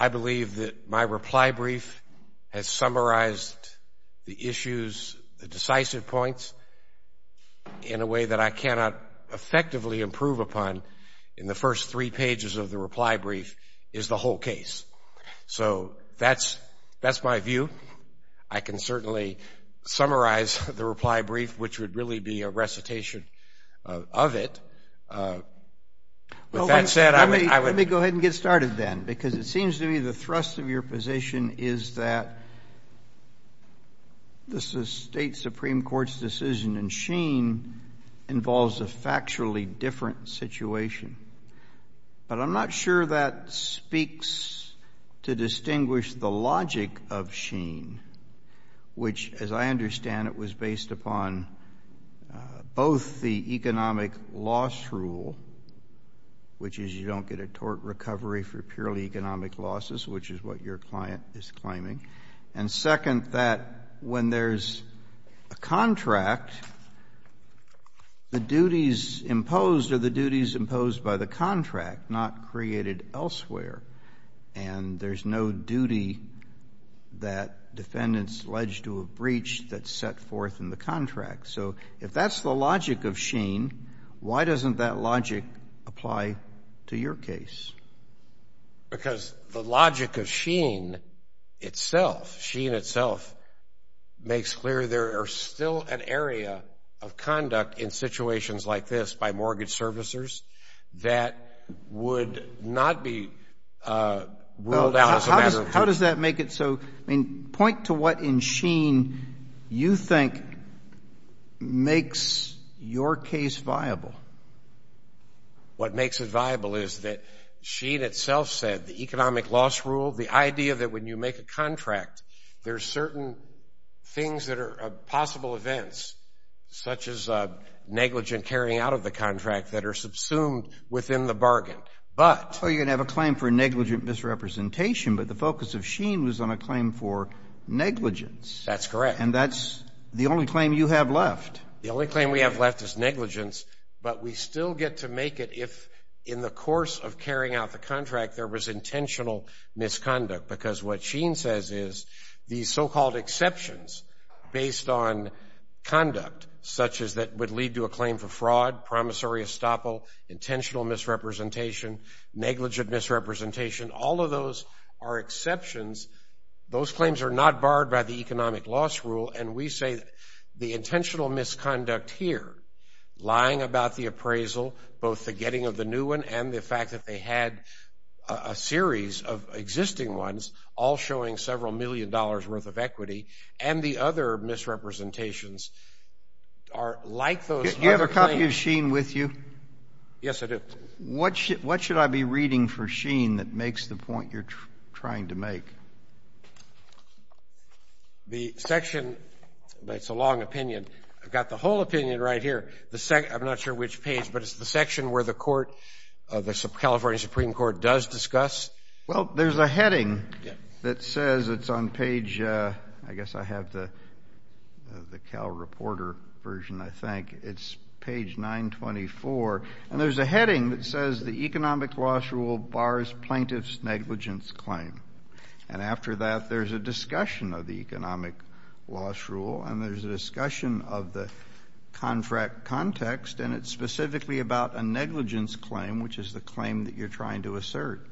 I believe that my reply brief has summarized the issues, the decisive points, in a way that I cannot effectively improve upon in the first three pages of the reply brief is the whole case. So that's my view. I can certainly summarize the reply brief, which would really be a recitation of it. With that said, I would— Let me go ahead and get started then, because it seems to me the thrust of your position is that this is a State Supreme Court's decision, and Sheen involves a factually different situation. But I'm not sure that speaks to distinguish the logic of Sheen, which, as I understand, it was based upon both the economic loss rule, which is you don't get a tort recovery for purely economic losses, which is what your client is claiming, and second, that when there's a contract, the duties imposed are the duties imposed by the contract, not created elsewhere. And there's no duty that defendants allege to a breach that's set forth in the contract. So if that's the logic of Sheen, why doesn't that logic apply to your case? Because the logic of Sheen itself, Sheen itself, makes clear there are still an area of conduct in situations like this by mortgage servicers that would not be ruled out as a matter of truth. How does that make it so—I mean, point to what in Sheen you think makes your case viable. What makes it viable is that Sheen itself said the economic loss rule, the idea that when you make a contract, there's certain things that are possible events, such as negligent carrying out of the contract, that are subsumed within the bargain. But— So you're going to have a claim for negligent misrepresentation, but the focus of Sheen was on a claim for negligence. That's correct. And that's the only claim you have left. The only claim we have left is negligence, but we still get to make it if in the course of carrying out the contract there was intentional misconduct. Because what Sheen says is these so-called exceptions based on conduct, such as that would lead to a claim for fraud, promissory estoppel, intentional misrepresentation, negligent misrepresentation, all of those are exceptions. Those claims are not barred by the economic loss rule. And we say the intentional misconduct here, lying about the appraisal, both the getting of the new one and the fact that they had a series of existing ones, all showing several million dollars' worth of equity, and the other misrepresentations are like those— Do you have a copy of Sheen with you? Yes, I do. What should I be reading for Sheen that makes the point you're trying to make? The section—it's a long opinion. I've got the whole opinion right here. I'm not sure which page, but it's the section where the California Supreme Court does discuss. Well, there's a heading that says—it's on page—I guess I have the Cal Reporter version, I think. It's page 924. And there's a heading that says, the economic loss rule bars plaintiff's negligence claim. And after that, there's a discussion of the economic loss rule, and there's a discussion of the contract context, and it's specifically about a negligence claim, which is the claim that you're trying to assert.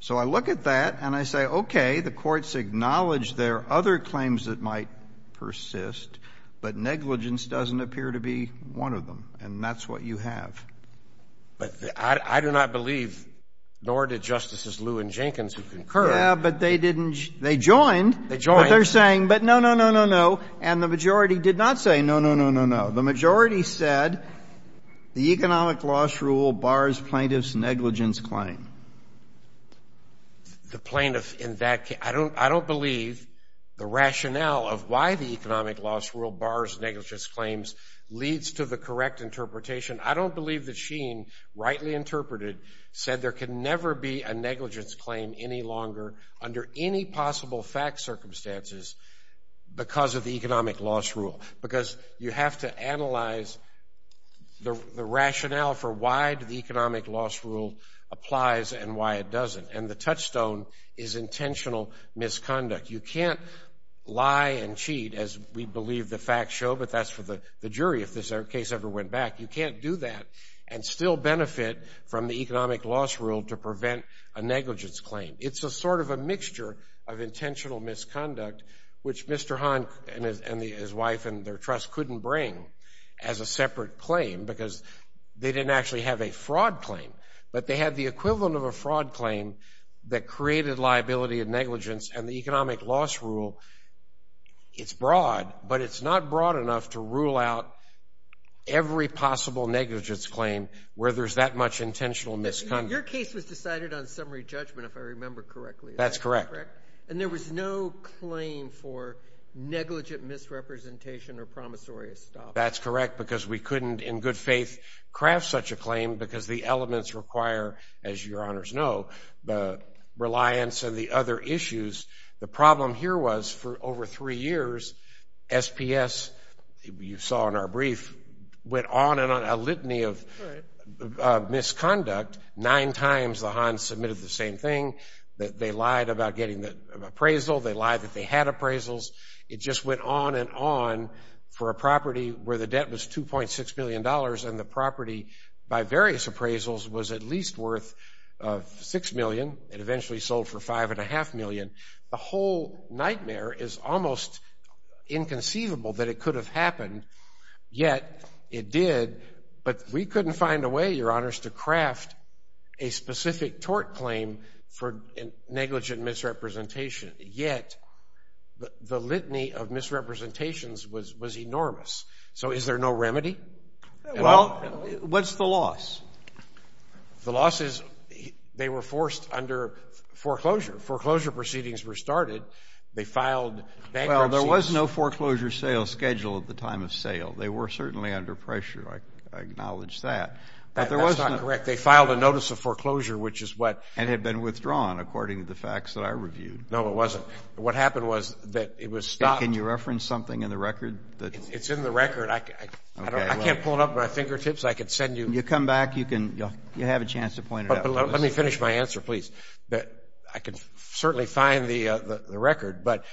So I look at that, and I say, okay, the courts acknowledge there are other claims that might persist, but negligence doesn't appear to be one of them. And that's what you have. But I do not believe, nor did Justices Lew and Jenkins, who concurred— Yeah, but they didn't—they joined— They joined. —what they're saying. But no, no, no, no, no. And the majority did not say no, no, no, no, no. The majority said the economic loss rule bars plaintiff's negligence claim. The plaintiff in that—I don't believe the rationale of why the economic loss rule bars negligence claims leads to the correct interpretation. I don't believe that Sheen, rightly interpreted, said there can never be a negligence claim any longer under any possible fact circumstances because of the economic loss rule. Because you have to analyze the rationale for why the economic loss rule applies and why it doesn't. And the touchstone is intentional misconduct. You can't lie and cheat, as we believe the facts show, but that's for the jury, if this case ever went back. You can't do that and still benefit from the economic loss rule to prevent a negligence claim. It's a sort of a mixture of intentional misconduct, which Mr. Hahn and his wife and their trust couldn't bring as a separate claim because they didn't actually have a fraud claim, but they had the equivalent of a fraud claim that created liability and negligence. And the economic loss rule, it's broad, but it's not broad enough to rule out every possible negligence claim where there's that much intentional misconduct. Your case was decided on summary judgment, if I remember correctly. That's correct. And there was no claim for negligent misrepresentation or promissory stop. That's correct because we couldn't, in good faith, craft such a claim because the elements require, as your honors know, the reliance and the other issues. The problem here was, for over three years, SPS, you saw in our brief, went on and on, a litany of misconduct. Nine times the Hahn's submitted the same thing, that they lied about getting the appraisal, they lied that they had appraisals. It just went on and on for a property where the debt was $2.6 million and the property by various appraisals was at least worth $6 million and eventually sold for $5.5 million. The whole nightmare is almost inconceivable that it could have happened, yet it did. But we couldn't find a way, your honors, to craft a specific tort claim for negligent misrepresentation, yet the litany of misrepresentations was enormous. So is there no remedy? Well, what's the loss? The loss is they were forced under foreclosure. Foreclosure proceedings were started. They filed bankruptcy... Well, there was no foreclosure sales schedule at the time of sale. They were certainly under pressure. I acknowledge that. That's not correct. They filed a notice of foreclosure, which is what... And had been withdrawn, according to the facts that I reviewed. No, it wasn't. What happened was that it was stopped... Can you reference something in the record? It's in the record. I can't pull it up with my fingertips. I could send you... You come back, you have a chance to point it out. Let me finish my answer, please. I can certainly find the record. But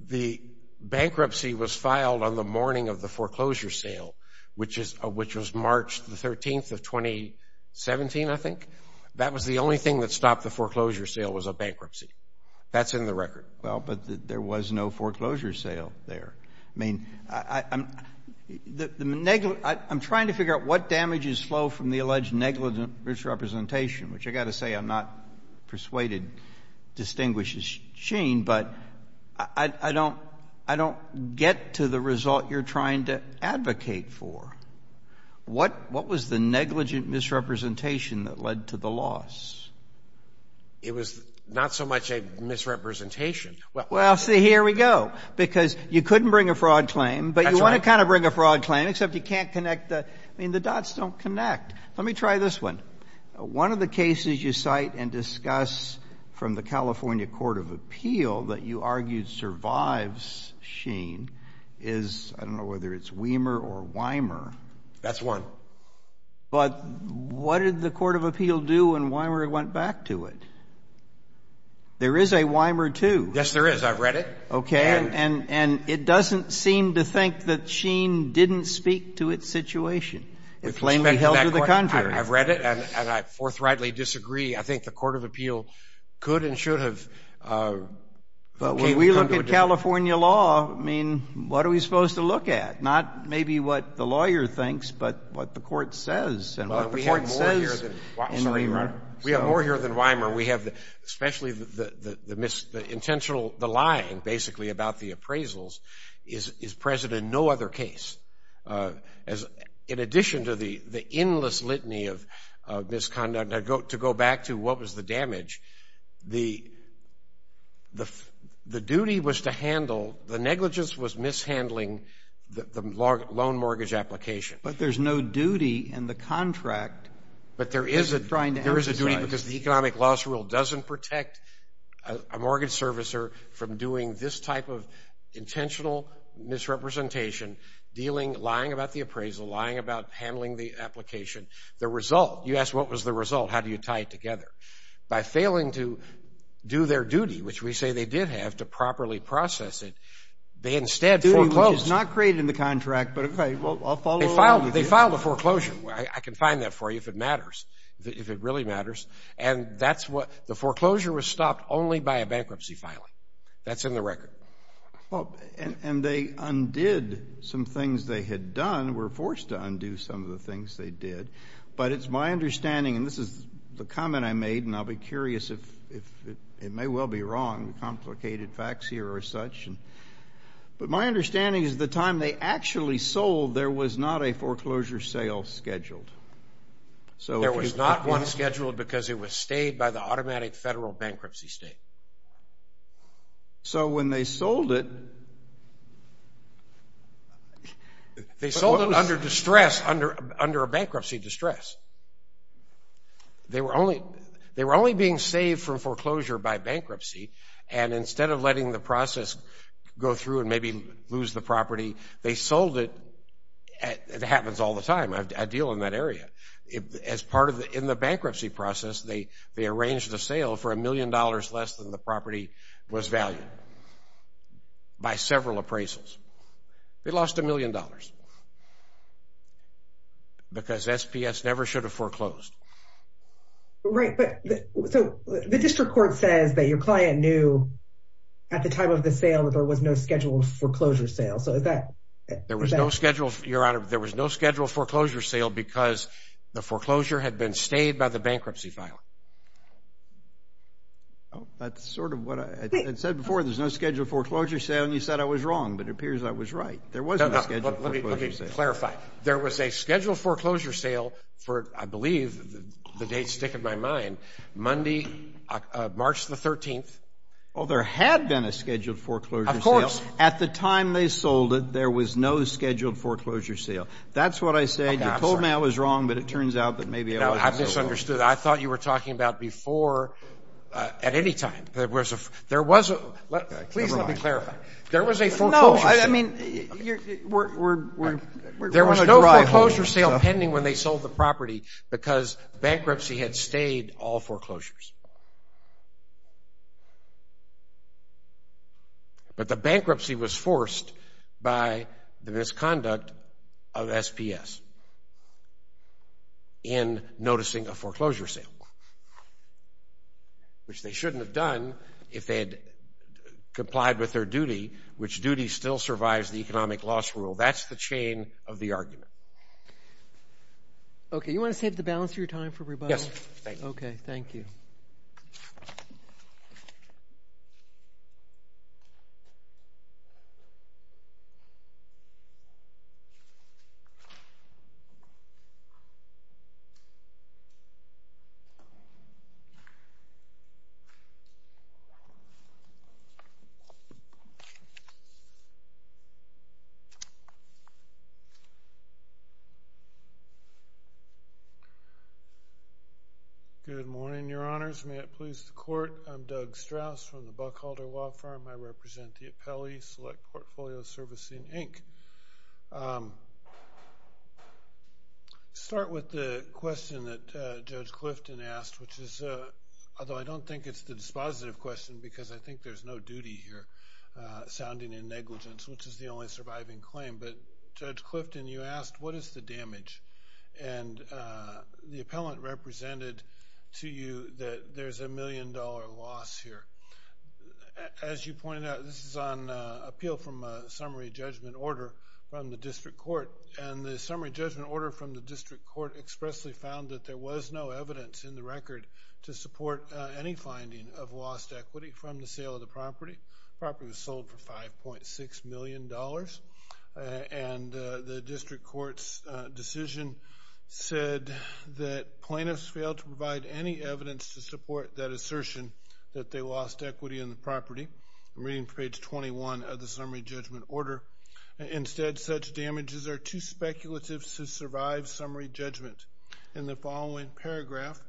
the bankruptcy was filed on the morning of the foreclosure sale, which was March the 13th of 2017, I think. That was the only thing that stopped the foreclosure sale was a bankruptcy. That's in the record. Well, but there was no foreclosure sale there. I mean, I'm trying to figure out what damage is slow from the alleged negligent misrepresentation, which I got to say, I'm not persuaded distinguishes Sheen, but I don't get to the result you're trying to advocate for. What was the negligent misrepresentation that led to the loss? It was not so much a misrepresentation. Well, see, here we go. Because you couldn't bring a fraud claim, but you want to kind of bring a fraud claim, except you can't connect the... I mean, the dots don't connect. Let me try this one. One of the cases you cite and discuss from the California Court of Appeal that you argued survives Sheen is, I don't know whether it's Weimer or Weimer. That's one. But what did the Court of Appeal do when Weimer went back to it? There is a Weimer too. Yes, there is. I've read it. Okay. And it doesn't seem to think that Sheen didn't speak to its situation. It plainly held to the contrary. I've read it, and I forthrightly disagree. I think the Court of Appeal could and should have... But when we look at California law, I mean, what are we supposed to look at? Not maybe what the lawyer thinks, but what the court says. Well, we have more here than Weimer. We have especially the intentional, the lying basically about the appraisals is present in no other case. As in addition to the endless litany of misconduct, to go back to what was the damage, the duty was to handle, the negligence was mishandling the loan mortgage application. But there's no duty in the contract. But there is a duty because the economic loss rule doesn't protect a mortgage servicer from doing this type of intentional misrepresentation, lying about the appraisal, lying about handling the application. The result, you ask, what was the result? How do you tie it together? By failing to do their duty, which we say they did have, to properly process it, they instead foreclosed. The duty was not created in the contract, but okay, I'll follow along with you. They filed a foreclosure. I can find that for you if it matters, if it really matters. And the foreclosure was stopped only by a bankruptcy filing. That's in the record. Well, and they undid some things they had done, were forced to undo some of the things they did. But it's my understanding, and this is the comment I made, and I'll be curious if it may well be wrong, complicated facts here or such. But my understanding is the time they actually sold, there was not a foreclosure sale scheduled. There was not one scheduled because it was stayed by the automatic federal bankruptcy state. So when they sold it... They sold it under distress, under a bankruptcy distress. They were only being saved from foreclosure by bankruptcy. And instead of letting the process go through and maybe lose the property, they sold it. It happens all the time. I deal in that area. As part of the bankruptcy process, they arranged the sale for a million dollars less than the property was valued by several appraisals. They lost a million dollars because SPS never should have foreclosed. Right. But the district court says that your client knew at the time of the sale that there was no scheduled foreclosure sale. So is that... There was no schedule, Your Honor. There was no scheduled foreclosure sale because the foreclosure had been stayed by the bankruptcy filer. Oh, that's sort of what I had said before. There's no scheduled foreclosure sale. And you said I was wrong, but it appears I was right. There was no scheduled foreclosure sale. No, no. Let me clarify. There was a scheduled foreclosure sale for, I believe, the dates stick in my mind, Monday, March the 13th. Well, there had been a scheduled foreclosure sale. Of course. At the time they sold it, there was no scheduled foreclosure sale. That's what I said. You told me I was wrong, but it turns out that maybe I wasn't so wrong. No, I misunderstood. I thought you were talking about before at any time. There was a... There was a... Please let me clarify. There was a foreclosure sale. No, I mean... There was no foreclosure sale pending when they sold the property because bankruptcy had stayed all foreclosures. But the bankruptcy was forced by the misconduct of SPS. In noticing a foreclosure sale, which they shouldn't have done if they had complied with their duty, which duty still survives the economic loss rule. That's the chain of the argument. Okay. You want to save the balance of your time for rebuttal? Yes, thank you. Okay. Thank you. Thank you. Good morning, your honors. May it please the court. I'm Doug Strauss from the Buckhalter Wild Farm. I represent the appellee Select Portfolio Servicing, Inc. Start with the question that Judge Clifton asked, which is... Although I don't think it's the dispositive question because I think there's no duty here sounding in negligence, which is the only surviving claim. But Judge Clifton, you asked, what is the damage? And the appellant represented to you that there's a million dollar loss here. As you pointed out, this is on appeal from a summary judgment order from the district court. And the summary judgment order from the district court expressly found that there was no evidence in the record to support any finding of lost equity from the sale of the property. The property was sold for $5.6 million. And the district court's decision said that plaintiffs failed to provide any evidence to support that assertion that they lost equity in the property. I'm reading from page 21 of the summary judgment order. Instead, such damages are too speculative to survive summary judgment. In the following paragraph,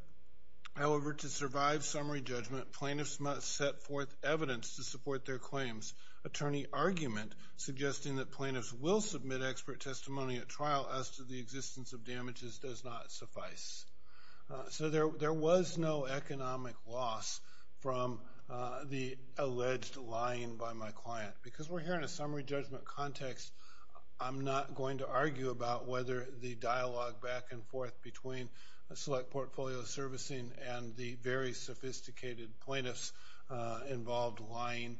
however, to survive summary judgment, plaintiffs must set forth evidence to support their claims. Attorney argument suggesting that plaintiffs will submit expert testimony at trial as to the existence of damages does not suffice. So there was no economic loss from the alleged lying by my client. Because we're here in a summary judgment context, I'm not going to argue about whether the dialogue back and forth between a select portfolio servicing and the very sophisticated plaintiffs involved lying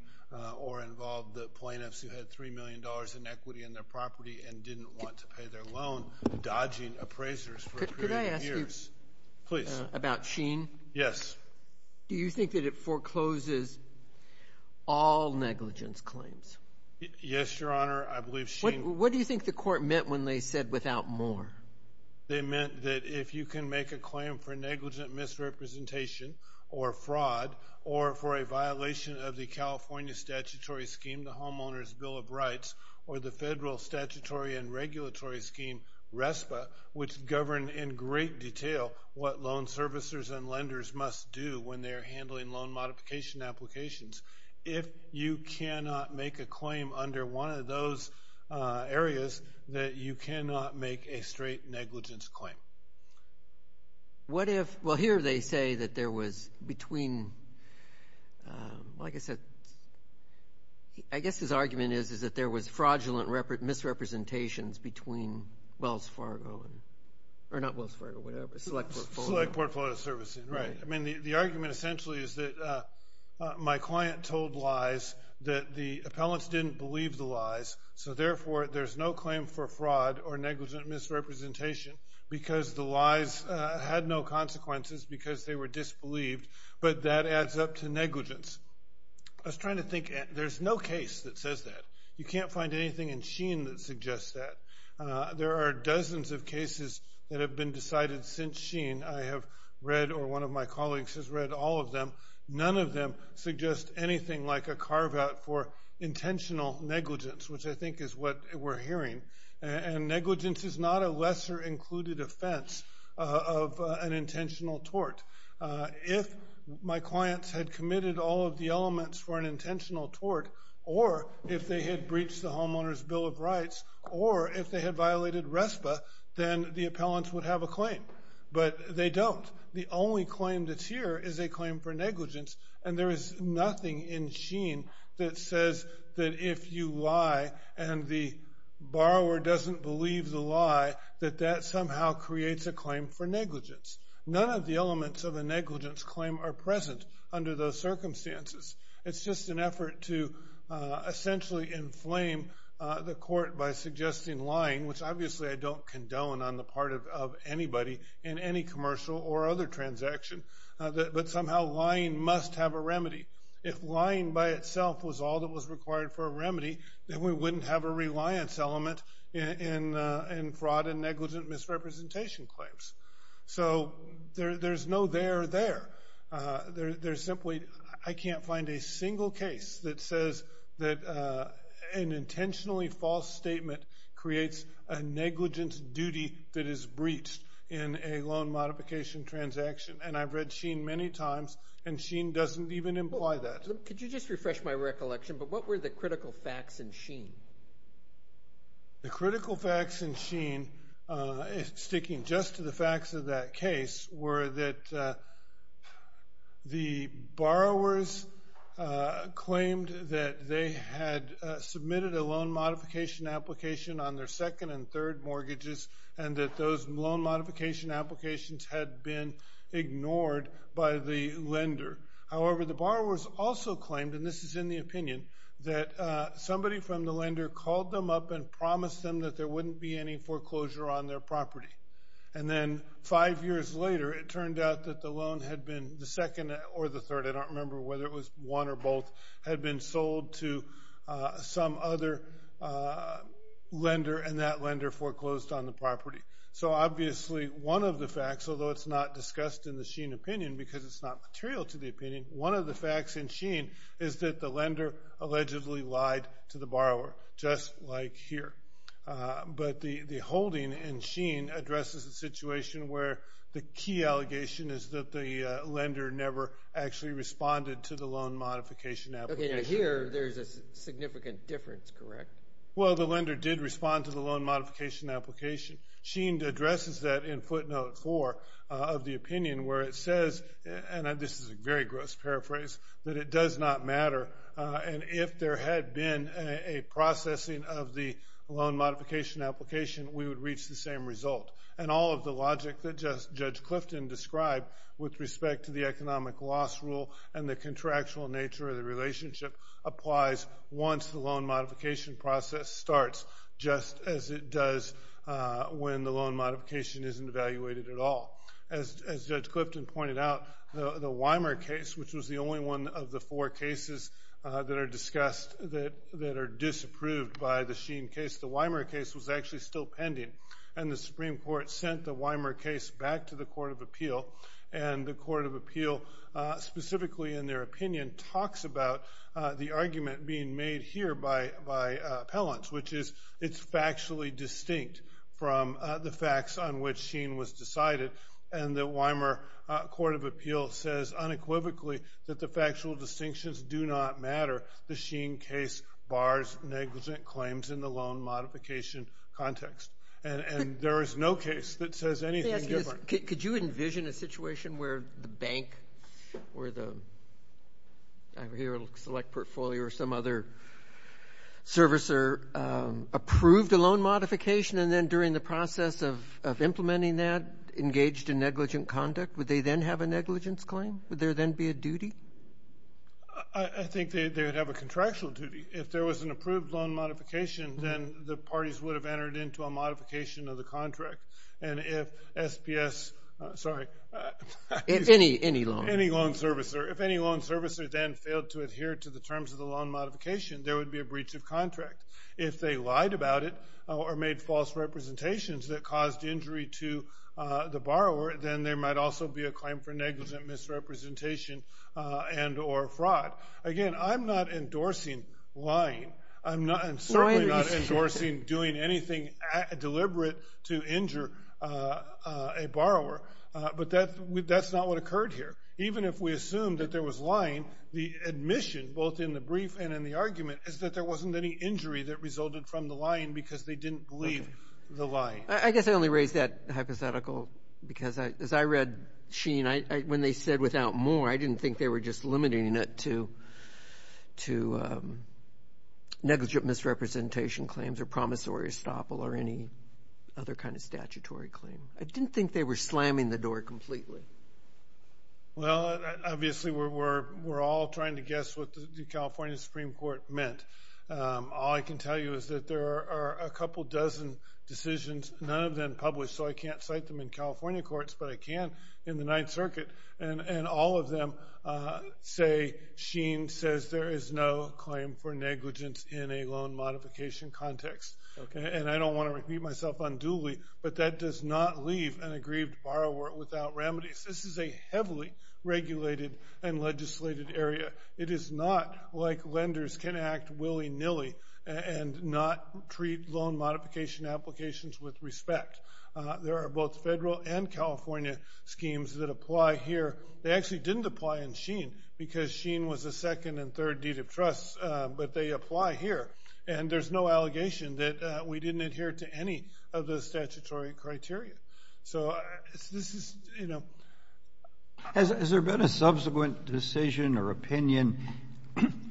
or involved the plaintiffs who had $3 million in equity in their property and didn't want to pay their loan dodging appraisers for a period of years. Could I ask you about Sheen? Yes. Do you think that it forecloses all negligence claims? Yes, Your Honor, I believe Sheen... What do you think the court meant when they said without more? They meant that if you can make a claim for negligent misrepresentation or fraud or for a violation of the California statutory scheme, the Homeowners Bill of Rights, or the federal statutory and regulatory scheme, RESPA, which govern in great detail what loan servicers and lenders must do when they're handling loan modification applications. If you cannot make a claim under one of those areas, that you cannot make a straight negligence claim. What if... Well, here they say that there was between... Like I said, I guess his argument is that there was fraudulent misrepresentations between Wells Fargo and... Or not Wells Fargo, whatever, Select Portfolio. Select Portfolio Servicing, right. I mean, the argument essentially is that my client told lies that the appellants didn't believe the lies. So therefore, there's no claim for fraud or negligent misrepresentation because the lies had no consequences because they were disbelieved. But that adds up to negligence. I was trying to think, there's no case that says that. You can't find anything in Sheen that suggests that. There are dozens of cases that have been decided since Sheen. I have read, or one of my colleagues has read all of them. None of them suggest anything like a carve-out for intentional negligence, which I think is what we're hearing. And negligence is not a lesser included offense of an intentional tort. If my clients had committed all of the elements for an intentional tort, or if they had breached the Homeowner's Bill of Rights, or if they had violated RESPA, then the appellants would have a claim. But they don't. The only claim that's here is a claim for negligence. And there is nothing in Sheen that says that if you lie and the borrower doesn't believe the lie, that that somehow creates a claim for negligence. None of the elements of a negligence claim are present under those circumstances. It's just an effort to essentially inflame the court by suggesting lying, which obviously I don't condone on the part of anybody in any commercial or other transaction. But somehow lying must have a remedy. If lying by itself was all that was required for a remedy, then we wouldn't have a reliance element in fraud and negligent misrepresentation claims. So there's no there there. There's simply I can't find a single case that says that an intentionally false statement creates a negligence duty that is breached in a loan modification transaction. And I've read Sheen many times, and Sheen doesn't even imply that. Could you just refresh my recollection? But what were the critical facts in Sheen? The critical facts in Sheen, sticking just to the facts of that case, were that the borrowers claimed that they had submitted a loan modification application on their second and third mortgages and that those loan modification applications had been ignored by the lender. However, the borrowers also claimed, and this is in the opinion, that somebody from the lender called them up and promised them that there wouldn't be any foreclosure on their property. And then five years later, it turned out that the loan had been, the second or the third, I don't remember whether it was one or both, had been sold to some other lender and that lender foreclosed on the property. So obviously one of the facts, although it's not discussed in the Sheen opinion because it's not material to the opinion, one of the facts in Sheen is that the lender allegedly lied to the borrower, just like here. But the holding in Sheen addresses a situation where the key allegation is that the lender never actually responded to the loan modification application. Here, there's a significant difference, correct? Well, the lender did respond to the loan modification application. Sheen addresses that in footnote four of the opinion, where it says, and this is a very gross paraphrase, that it does not matter. And if there had been a processing of the loan modification application, we would reach the same result. And all of the logic that Judge Clifton described with respect to the economic loss rule and the contractual nature of the relationship applies once the loan modification process starts, just as it does when the loan modification isn't evaluated at all. As Judge Clifton pointed out, the Weimer case, which was the only one of the four cases that are discussed that are disapproved by the Sheen case, the Weimer case was actually still pending. And the Supreme Court sent the Weimer case back to the Court of Appeal. And the Court of Appeal, specifically in their opinion, talks about the argument being made here by appellants, which is it's factually distinct from the facts on which Sheen was decided. And the Weimer Court of Appeal says unequivocally that the factual distinctions do not matter. The Sheen case bars negligent claims in the loan modification context. And there is no case that says anything different. Could you envision a situation where the bank, where the select portfolio or some other servicer approved a loan modification, and then during the process of implementing that engaged in negligent conduct? Would they then have a negligence claim? Would there then be a duty? I think they would have a contractual duty. If there was an approved loan modification, then the parties would have entered into a modification of the contract. And if SPS, sorry. Any loan. Any loan servicer. If any loan servicer then failed to adhere to the terms of the loan modification, there would be a breach of contract. If they lied about it or made false representations that caused injury to the borrower, then there might also be a claim for negligent misrepresentation and or fraud. Again, I'm not endorsing lying. I'm certainly not endorsing doing anything deliberate to injure a borrower. But that's not what occurred here. Even if we assume that there was lying, the admission both in the brief and in the argument is that there wasn't any injury that resulted from the lying because they didn't believe the lying. I guess I only raise that hypothetical because as I read Sheen, when they said without more, I didn't think they were just limiting it to negligent misrepresentation claims or promissory estoppel or any other kind of statutory claim. I didn't think they were slamming the door completely. Well, obviously, we're all trying to guess what the California Supreme Court meant. All I can tell you is that there are a couple dozen decisions, none of them published, so I can't cite them in California courts, but I can in the Ninth Circuit. And all of them say Sheen says there is no claim for negligence in a loan modification context. And I don't want to repeat myself unduly, but that does not leave an aggrieved borrower without remedies. This is a heavily regulated and legislated area. It is not like lenders can act willy-nilly and not treat loan modification applications with respect. There are both federal and California schemes that apply here. They actually didn't apply in Sheen because Sheen was the second and third deed of trust, but they apply here. And there's no allegation that we didn't adhere to any of the statutory criteria. So this is, you know... Has there been a subsequent decision or opinion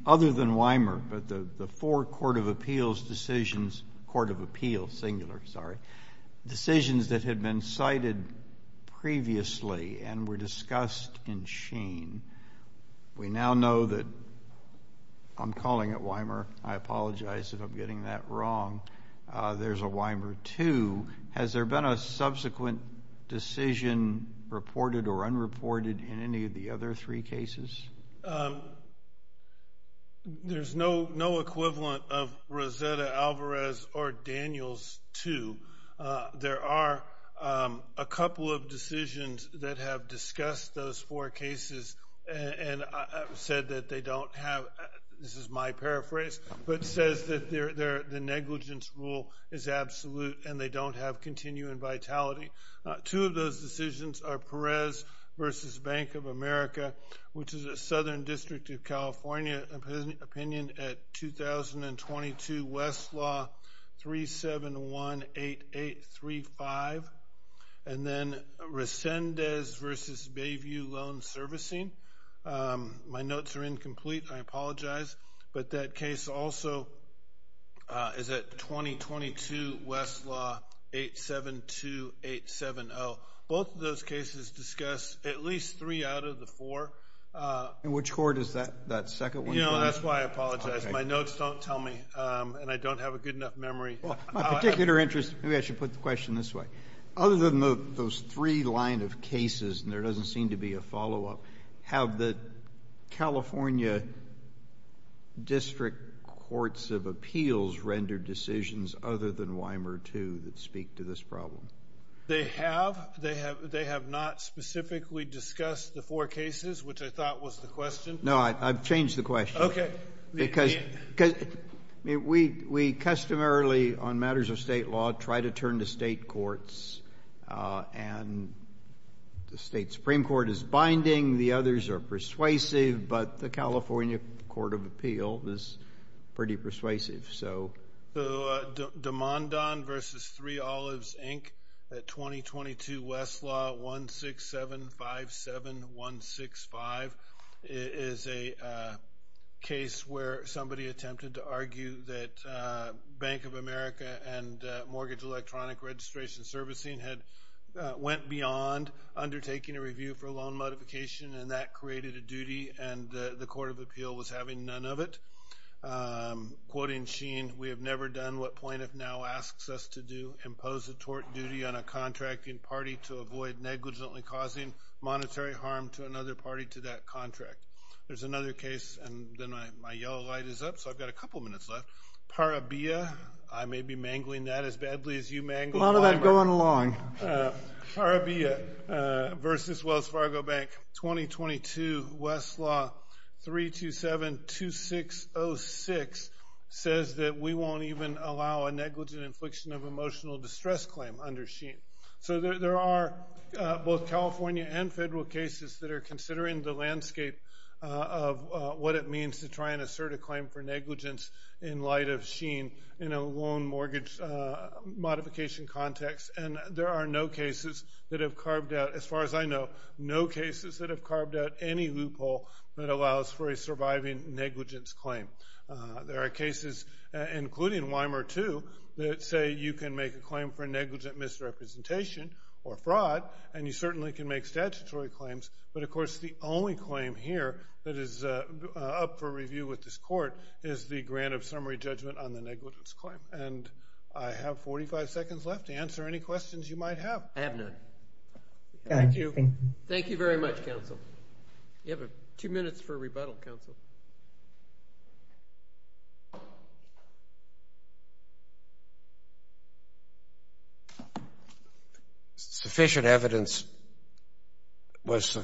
other than Weimer, but the four Court of Appeals decisions, Court of Appeals, singular, sorry, decisions that had been cited previously and were discussed in Sheen? We now know that... I'm calling it Weimer. I apologize if I'm getting that wrong. There's a Weimer 2. Has there been a subsequent decision reported or unreported in any of the other three cases? There's no equivalent of Rosetta Alvarez or Daniels 2. There are a couple of decisions that have discussed those four cases and said that they don't have... This is my paraphrase, but says that the negligence rule is absolute and they don't have continuing vitality. Two of those decisions are Perez v. Bank of America, which is a Southern District of California opinion at 2022 Westlaw 3718835. And then Resendez v. Bayview Loan Servicing. My notes are incomplete. I apologize. But that case also is at 2022 Westlaw 872870. Both of those cases discuss at least three out of the four. And which court is that second one? You know, that's why I apologize. My notes don't tell me and I don't have a good enough memory. Well, my particular interest... Maybe I should put the question this way. Other than those three line of cases, and there doesn't seem to be a follow-up, have the California District Courts of Appeals rendered decisions other than Weimer too that speak to this problem? They have. They have not specifically discussed the four cases, which I thought was the question. No, I've changed the question. Okay. Because we customarily, on matters of state law, try to turn to state courts. And the state Supreme Court is binding. The others are persuasive. But the California Court of Appeals is pretty persuasive. So... So Damondon v. Three Olives, Inc. at 2022 Westlaw 16757165 is a case where somebody attempted to argue that Bank of America and Mortgage Electronic Registration Servicing had went beyond undertaking a review for a loan modification, and that created a duty, and the Court of Appeal was having none of it. Quoting Sheen, we have never done what plaintiff now asks us to do, impose a tort duty on a contracting party to avoid negligently causing monetary harm to another party to that contract. There's another case, and then my yellow light is up, so I've got a couple minutes left. Parabea. I may be mangling that as badly as you mangled... A lot of that going along. Parabea v. Wells Fargo Bank 2022 Westlaw 3272606 says that we won't even allow a negligent infliction of emotional distress claim under Sheen. So there are both California and federal cases that are considering the landscape of what it means to try and assert a claim for negligence in light of Sheen in a loan mortgage modification context, and there are no cases that have carved out, as far as I know, no cases that have carved out any loophole that allows for a surviving negligence claim. There are cases, including Weimer too, that say you can make a claim for negligent misrepresentation or fraud, and you certainly can make statutory claims, but of course the only claim here that is up for review with this court is the grant of summary judgment on the negligence claim. And I have 45 seconds left to answer any questions you might have. I have none. Thank you. Thank you very much, counsel. You have two minutes for rebuttal, counsel. Sufficient evidence was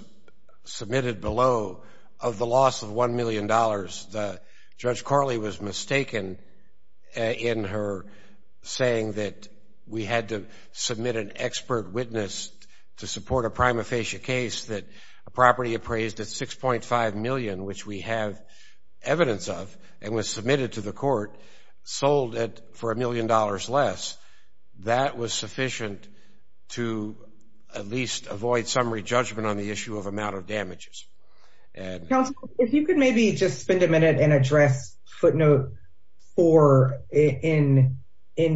submitted below of the loss of $1 million that Judge Corley was mistaken in her saying that we had to submit an expert witness to support a prima facie case that a property appraised at $6.5 million, which we have evidence of and was submitted to the court, sold for $1 million less. That was sufficient to at least avoid summary judgment on the issue of amount of damages. Counsel, if you could maybe just spend a minute and address footnote four in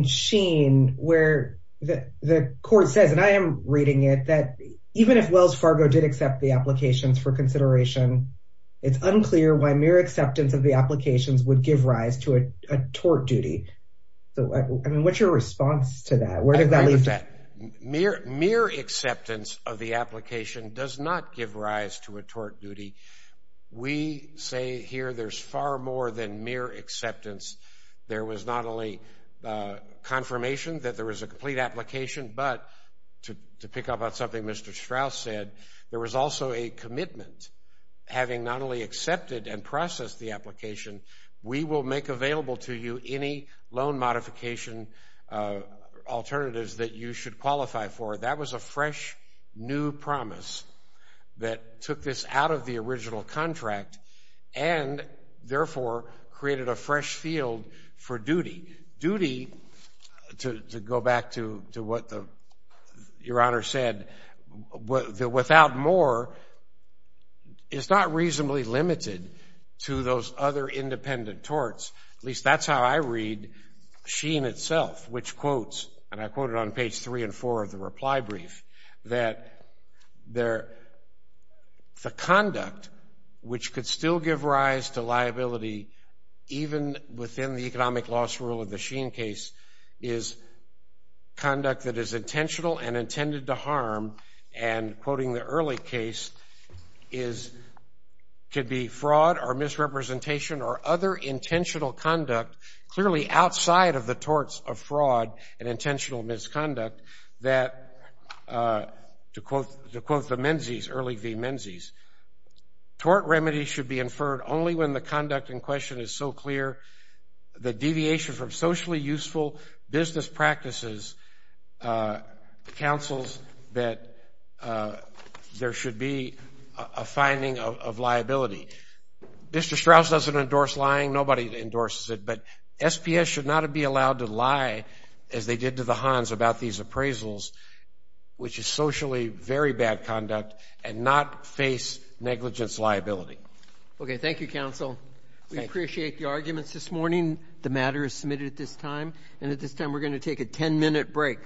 Sheen where the court says, and I am reading it, that even if Wells Fargo did accept the applications for consideration, it's unclear why mere acceptance of the applications would give rise to a tort duty. So, I mean, what's your response to that? Where does that leave that? Mere acceptance of the application does not give rise to a tort duty. We say here there's far more than mere acceptance. There was not only confirmation that there was a complete application, but to pick up on something Mr. Strauss said, there was also a commitment. Having not only accepted and processed the application, we will make available to you any loan modification alternatives that you should qualify for. That was a fresh new promise that took this out of the original contract and therefore created a fresh field for duty. Duty, to go back to what Your Honor said, without more is not reasonably limited to those other independent torts. At least that's how I read Sheen itself, which quotes, and I quote it on page three and four of the reply brief, that the conduct which could still give rise to liability even within the economic loss rule of the Sheen case is conduct that is intentional and intended to harm. And quoting the early case, is could be fraud or misrepresentation or other intentional conduct clearly outside of the torts of fraud and intentional misconduct that, to quote the Menzies, early V. Menzies, tort remedies should be inferred only when the conduct in question is so clear the deviation from socially useful business practices, counsels that there should be a finding of liability. Mr. Strauss doesn't endorse lying, nobody endorses it, but SPS should not be allowed to lie as they did to the Hans about these appraisals, which is socially very bad conduct and not face negligence liability. Okay, thank you, counsel. We appreciate the arguments this morning. The matter is submitted at this time. And at this time, we're going to take a 10 minute break.